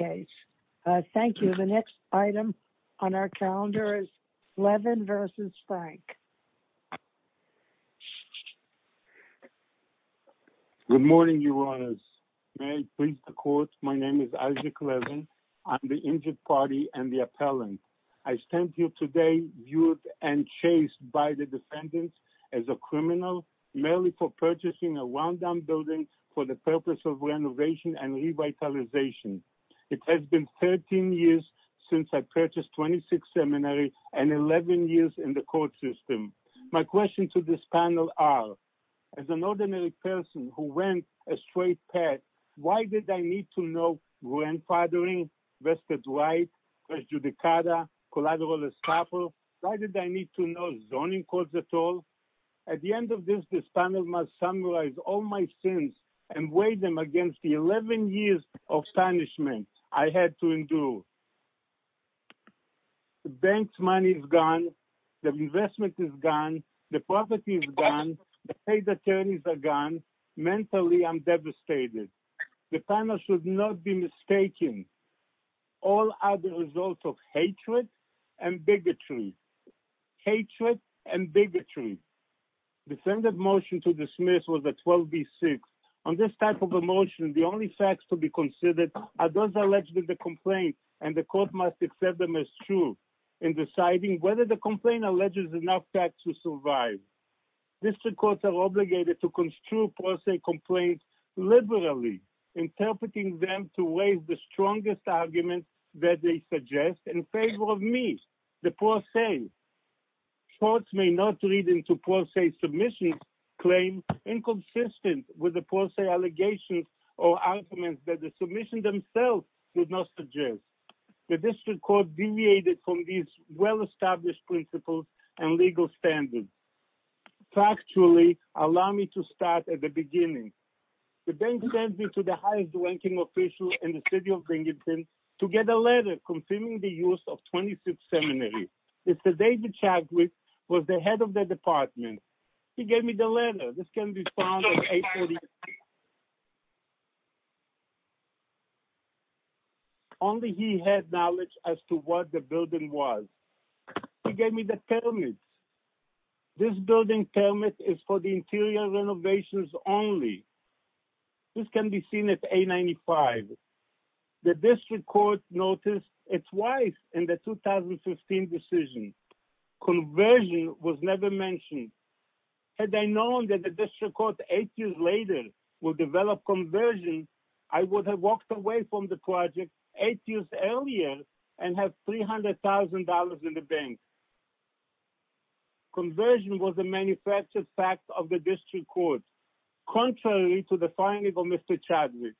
Good morning, your honors. My name is Isaac Levin. I'm the injured party and the appellant. I stand here today viewed and chased by the defendants as a criminal, merely for purchasing a one-down building for the purpose of renovation and revitalization. It has been 13 years since I purchased 26 seminaries and 11 years in the court system. My question to this panel are, as an ordinary person who went a straight path, why did I need to know grandfathering, vested right, collateral estoppel? Why did I need to know zoning codes at all? At the all my sins and weigh them against the 11 years of punishment I had to endure? The bank's money is gone. The investment is gone. The property is gone. The state attorneys are gone. Mentally, I'm devastated. The panel should not be mistaken. All are the result of hatred and bigotry. Hatred and bigotry. The motion to dismiss was a 12B6. On this type of a motion, the only facts to be considered are those alleged in the complaint and the court must accept them as true in deciding whether the complaint alleges enough facts to survive. District courts are obligated to construe complaints liberally, interpreting them to raise the strongest arguments that they suggest in favor of me, the poor say. Courts may not read into poor say submissions, claims inconsistent with the poor say allegations or arguments that the submission themselves would not suggest. The district court deviated from these well-established principles and legal standards. Factually, allow me to start at the beginning. The bank sends me to the highest to get a letter confirming the use of 26th seminary. David Chagwit was the head of the department. He gave me the letter. This can be found at 836. Only he had knowledge as to what the building was. He gave me the permit. This building permit is for the interior renovations only. This can be seen at 895. The district court noticed it twice in the 2015 decision. Conversion was never mentioned. Had I known that the district court eight years later would develop conversion, I would have walked away from the project eight years earlier and have $300,000 in the bank. Conversion was a manufactured fact of the district court. Contrary to the finding of Mr. Chagwit.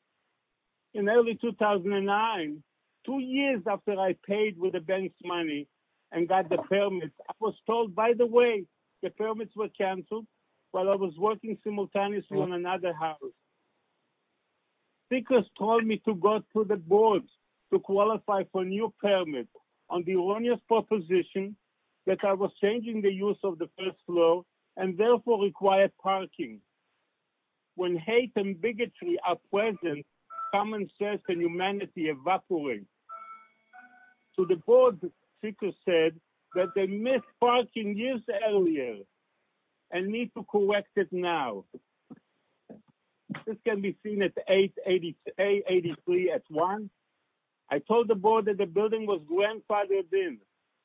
In early 2009, two years after I paid with the bank's money and got the permit, I was told, by the way, the permits were canceled while I was working simultaneously in another house. They told me to go to the board to qualify for a new permit on the erroneous proposition that I was changing the use of the first floor and therefore required parking. When hate and bigotry are present, common sense and humanity evaporates. So the board speaker said that they missed parking years earlier and need to correct it now. This can be seen at 883 at one. I told the board that the building was grandfathered in.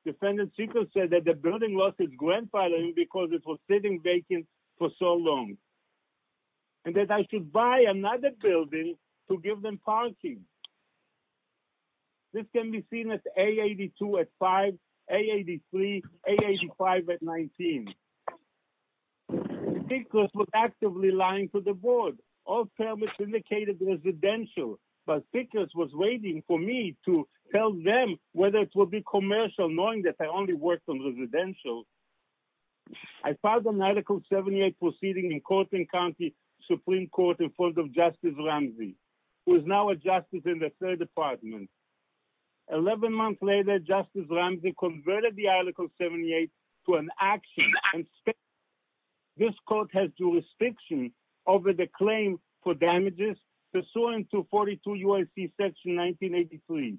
The building was grandfathered in because it was sitting vacant for so long. And that I should buy another building to give them parking. This can be seen at 882 at five, 883, 885 at 19. The speakers were actively lying to the board. All permits indicated residential, but speakers were waiting for me to tell them whether it would be commercial knowing that I only worked on residential. I filed a medical 78 proceeding in Courtland County Supreme Court in front of Justice Ramsey who is now a justice in the third department. 11 months later, Justice Ramsey converted the article 78 to an action. This court has jurisdiction over the claim for damages pursuant to 42 UIC section 1983.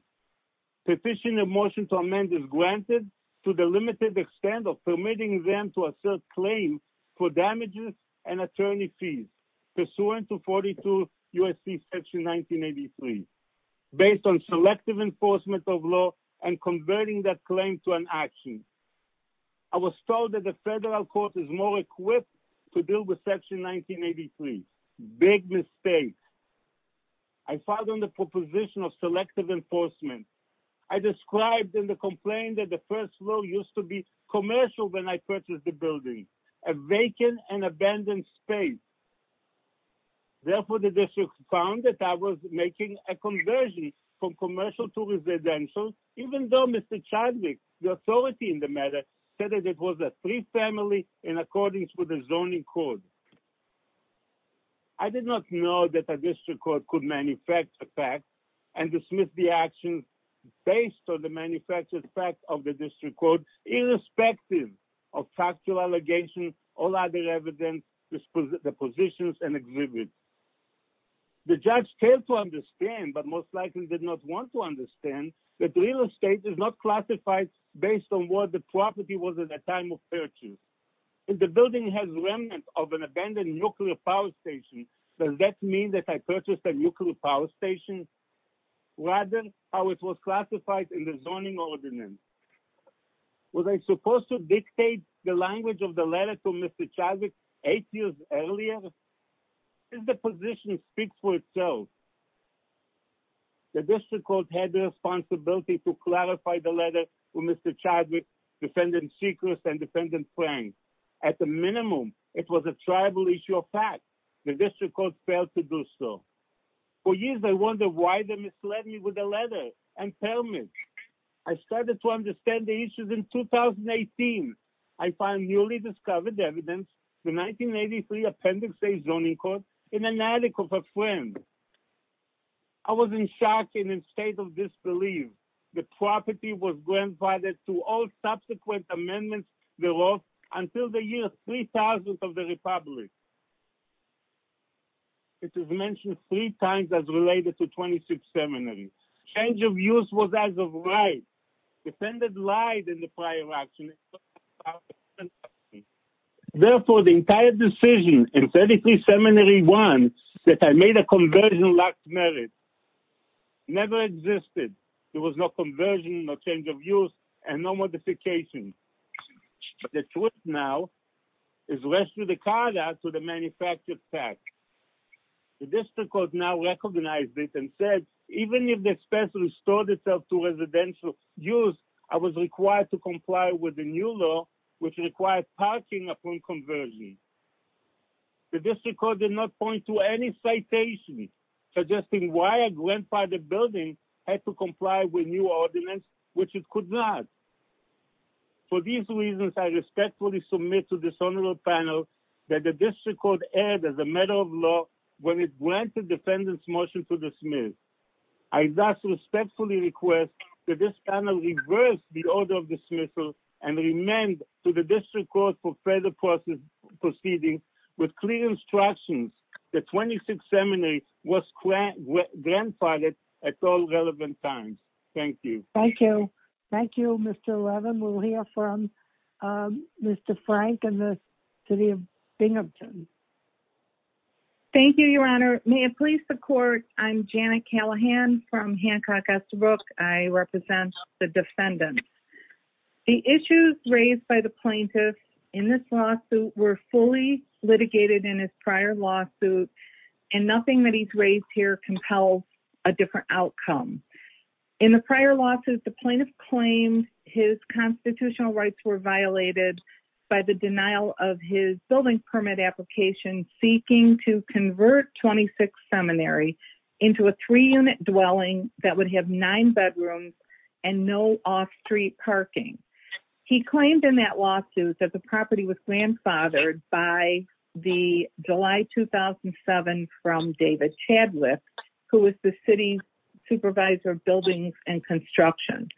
Petition of motion to amend is granted to the limited extent of permitting them to assert claim for damages and attorney fees pursuant to 42 UIC section 1983 based on selective enforcement of law and converting that claim to an action. I was told that the federal court is more equipped to deal with section 1983. Big mistake. I filed on the proposition of selective enforcement. I described in the complaint that the first law used to be commercial when I purchased the building, a vacant and abandoned space. Therefore, the district found that I was making a conversion from commercial to residential even though Mr. Chadwick, the authority in the matter, said that it was a free family in accordance with the zoning code. I did not know that a district court could manufacture facts and dismiss the actions based on the manufactured facts of the district court irrespective of factual allegations or other evidence, dispositions and exhibits. The judge failed to understand but most likely did not want to understand that real estate is not classified based on what the property was at the time of purchase. If the building has remnants of an abandoned nuclear power station, does that mean that I purchased a nuclear power station rather than how it was classified in the zoning ordinance? Was I supposed to dictate the language of the letter to Mr. Chadwick eight years earlier? The position speaks for itself. The district court had the responsibility to clarify the letter to Mr. Chadwick, defendant Seacrest and defendant Frank. At the minimum, it was a tribal issue of facts. The district court failed to do so. For years, I wondered why they misled me with a letter and permit. I started to understand the issues in 2018. I found newly discovered evidence, the 1983 Appendix A Zoning Code, in an attic of a friend. I was in shock and in a state of disbelief. The property was granted to all subsequent amendments thereof until the year 3000 of the public. It is mentioned three times as related to 26th Seminary. Change of use was as of right. Defendant lied in the prior action. Therefore, the entire decision in 33th Seminary 1, that I made a conversion lax merit, never existed. There was no conversion, no change of use, and no modification. The truth now is the rest of the card acts with the manufactured tax. The district court now recognized it and said, even if the expense restored itself to residential use, I was required to comply with the new law, which requires parking upon conversion. The district court did not point to any citation suggesting why a grandfathered building had to be removed. I respectfully submit to this panel that the district court erred as a matter of law when it granted the motion to dismiss. I respectfully request that this panel reverse the order of dismissal and amend to the district court for further proceedings with clear instructions that 26th Seminary was grandfathered at all relevant times. Thank you. Thank you. Thank you, Mr. Levin. We'll hear from Mr. Frank and the city of Binghamton. Thank you, Your Honor. May it please the court, I'm Janet Callahan from Hancock S. Brooke. I represent the defendants. The issues raised by the plaintiff in this lawsuit were fully litigated in his prior lawsuit, and nothing that he's raised here compels a different outcome. In the prior lawsuits, the plaintiff claimed his constitutional rights were violated by the denial of his building permit application seeking to convert 26th Seminary into a three-unit dwelling that would have nine bedrooms and no off-street parking. He claimed in that lawsuit that the property was grandfathered by the July 2007 from David Chadwick, who was the city supervisor of construction.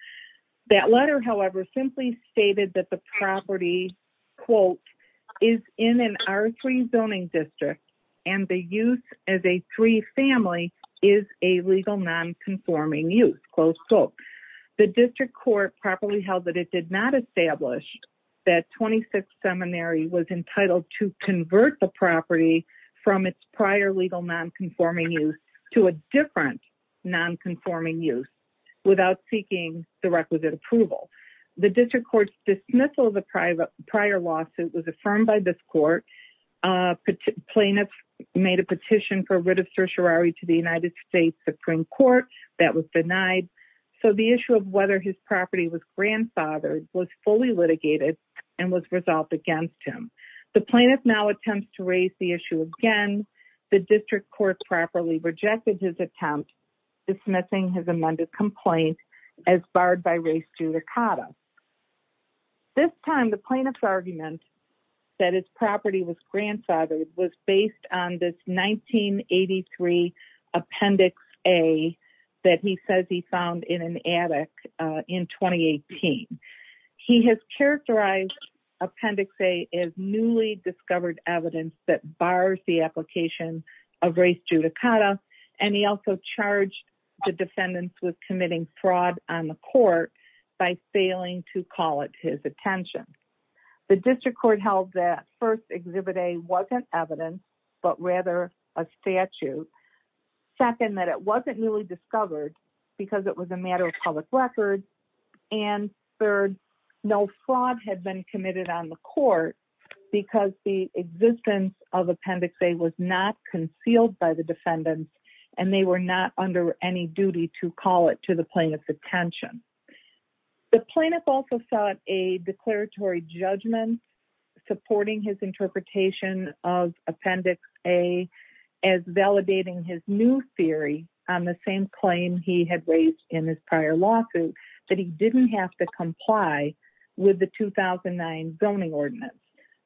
That letter, however, simply stated that the property, quote, is in an R3 zoning district, and the use as a three-family is a legal non-conforming use, close quote. The district court properly held that it did not establish that 26th Seminary was entitled to convert the property from its prior legal non-conforming use to a different non-conforming use without seeking the requisite approval. The district court's dismissal of the prior lawsuit was affirmed by this court. Plaintiffs made a petition for writ of certiorari to the United States Supreme Court. That was denied. So the issue of whether his property was grandfathered was fully litigated and was resolved against him. The plaintiff now attempts to raise the issue again. The district court properly rejected his attempt dismissing his amended complaint as barred by race judicata. This time, the plaintiff's argument that his property was grandfathered was based on this 1983 Appendix A that he says he found in an attic in 2018. He has characterized Appendix A as newly discovered evidence that bars the application of race judicata, and he also charged the defendants with committing fraud on the court by failing to call it his attention. The district court held that first, Exhibit A wasn't evidence, but rather a statute. Second, that it wasn't newly discovered because it was a matter of public record. And third, no fraud had been committed on the court because the existence of Appendix A was not concealed by the defendants, and they were not under any duty to call it to the plaintiff's attention. The plaintiff also sought a declaratory judgment supporting his interpretation of Appendix A as validating his new theory on the same claim he had raised in his prior lawsuit, that he didn't have to comply with the 2009 zoning ordinance.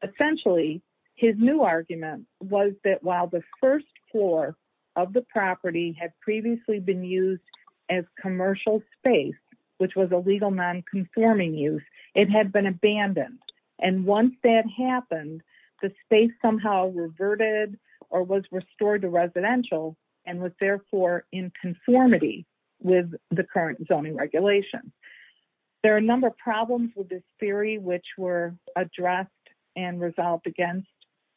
Essentially, his new argument was that while the first floor of the property had previously been used as commercial space, which was a legal nonconforming use, it had been abandoned. And once that happened, the space somehow reverted or was restored to residential and was therefore in conformity with the current zoning regulations. There are a number of problems with this theory which were addressed and resolved against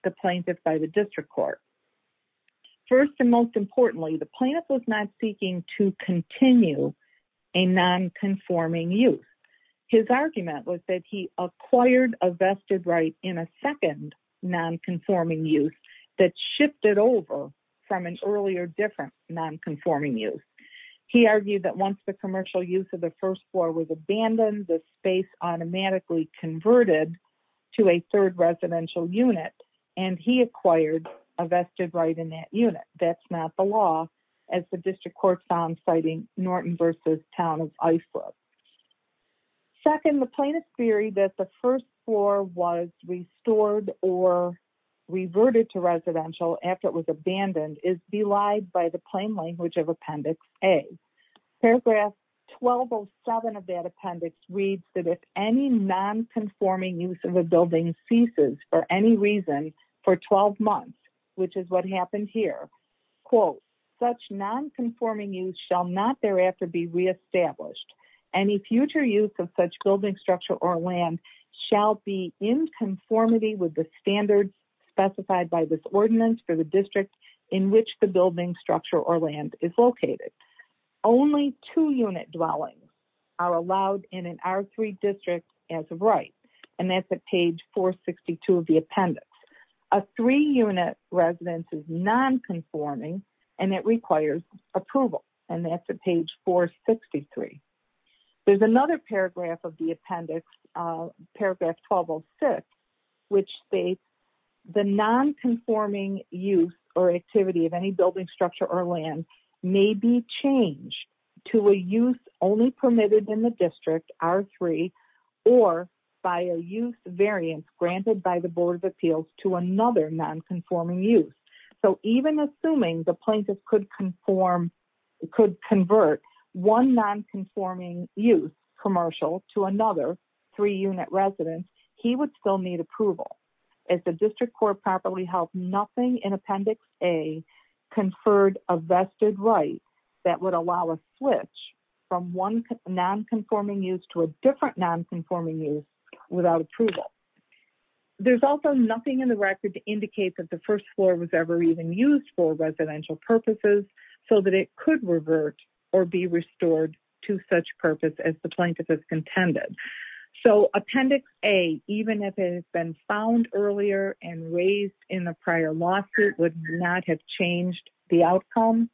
the plaintiff by the district court. First and most importantly, the plaintiff was not seeking to continue a nonconforming use. His argument was that he acquired a vested right in a second nonconforming use that shifted over from an earlier different nonconforming use. He argued that once the commercial use of the first floor was abandoned, the space automatically converted to a third residential unit, and he acquired a vested right in that unit. That's not the law, as the district court found, citing Norton v. Town of Iflip. Second, the plaintiff's theory that the first floor was restored or reverted to is belied by the plain language of Appendix A. Paragraph 1207 of that appendix reads that if any nonconforming use of a building ceases for any reason for 12 months, which is what happened here, such nonconforming use shall not thereafter be reestablished. Any future use of such building structure or land shall be in conformity with the standards specified by this ordinance for district in which the building structure or land is located. Only two-unit dwellings are allowed in an R3 district as a right, and that's at page 462 of the appendix. A three-unit residence is nonconforming and it requires approval, and that's at page 463. There's another paragraph of the or activity of any building structure or land may be changed to a use only permitted in the district R3 or by a use variance granted by the Board of Appeals to another nonconforming use. So even assuming the plaintiff could convert one nonconforming use commercial to another three-unit residence, he would still need approval as the district court properly held nothing in appendix A conferred a vested right that would allow a switch from one nonconforming use to a different nonconforming use without approval. There's also nothing in the record to indicate that the first floor was ever even used for residential purposes so that it could revert or be restored to such purpose as the plaintiff has contended. So appendix A, even if it has been found earlier and raised in the prior lawsuit, would not have changed the outcome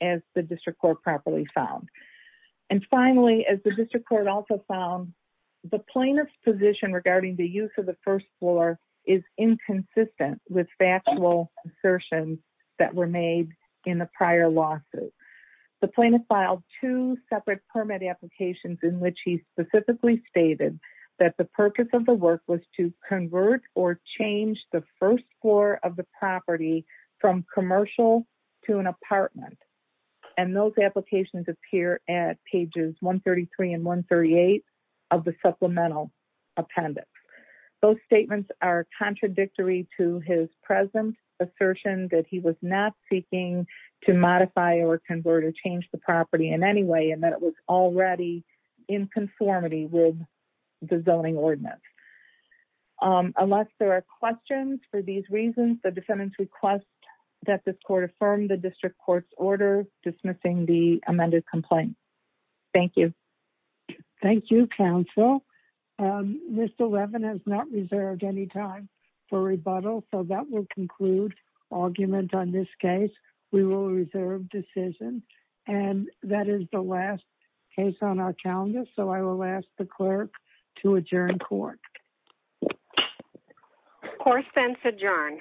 as the district court properly found. And finally, as the district court also found, the plaintiff's position regarding the use of the first floor is inconsistent with factual assertions that were made in the prior lawsuit. The plaintiff filed two separate permit applications in which he specifically stated that the purpose of the work was to convert or change the first floor of the property from commercial to an apartment and those applications appear at pages 133 and 138 of the supplemental appendix. Those statements are contradictory to his present assertion that he was not seeking to modify or convert or change the property in any way and that it was already in conformity with the zoning ordinance. Unless there are questions for these reasons, the defendants request that this court affirm the district court's order dismissing the amended complaint. Thank you. Thank you, counsel. Mr. Levin has not reserved any time for rebuttal, so that will conclude argument on this case. We will reserve decision and that is the last case on our calendar, so I will ask the clerk to adjourn court. Court is adjourned.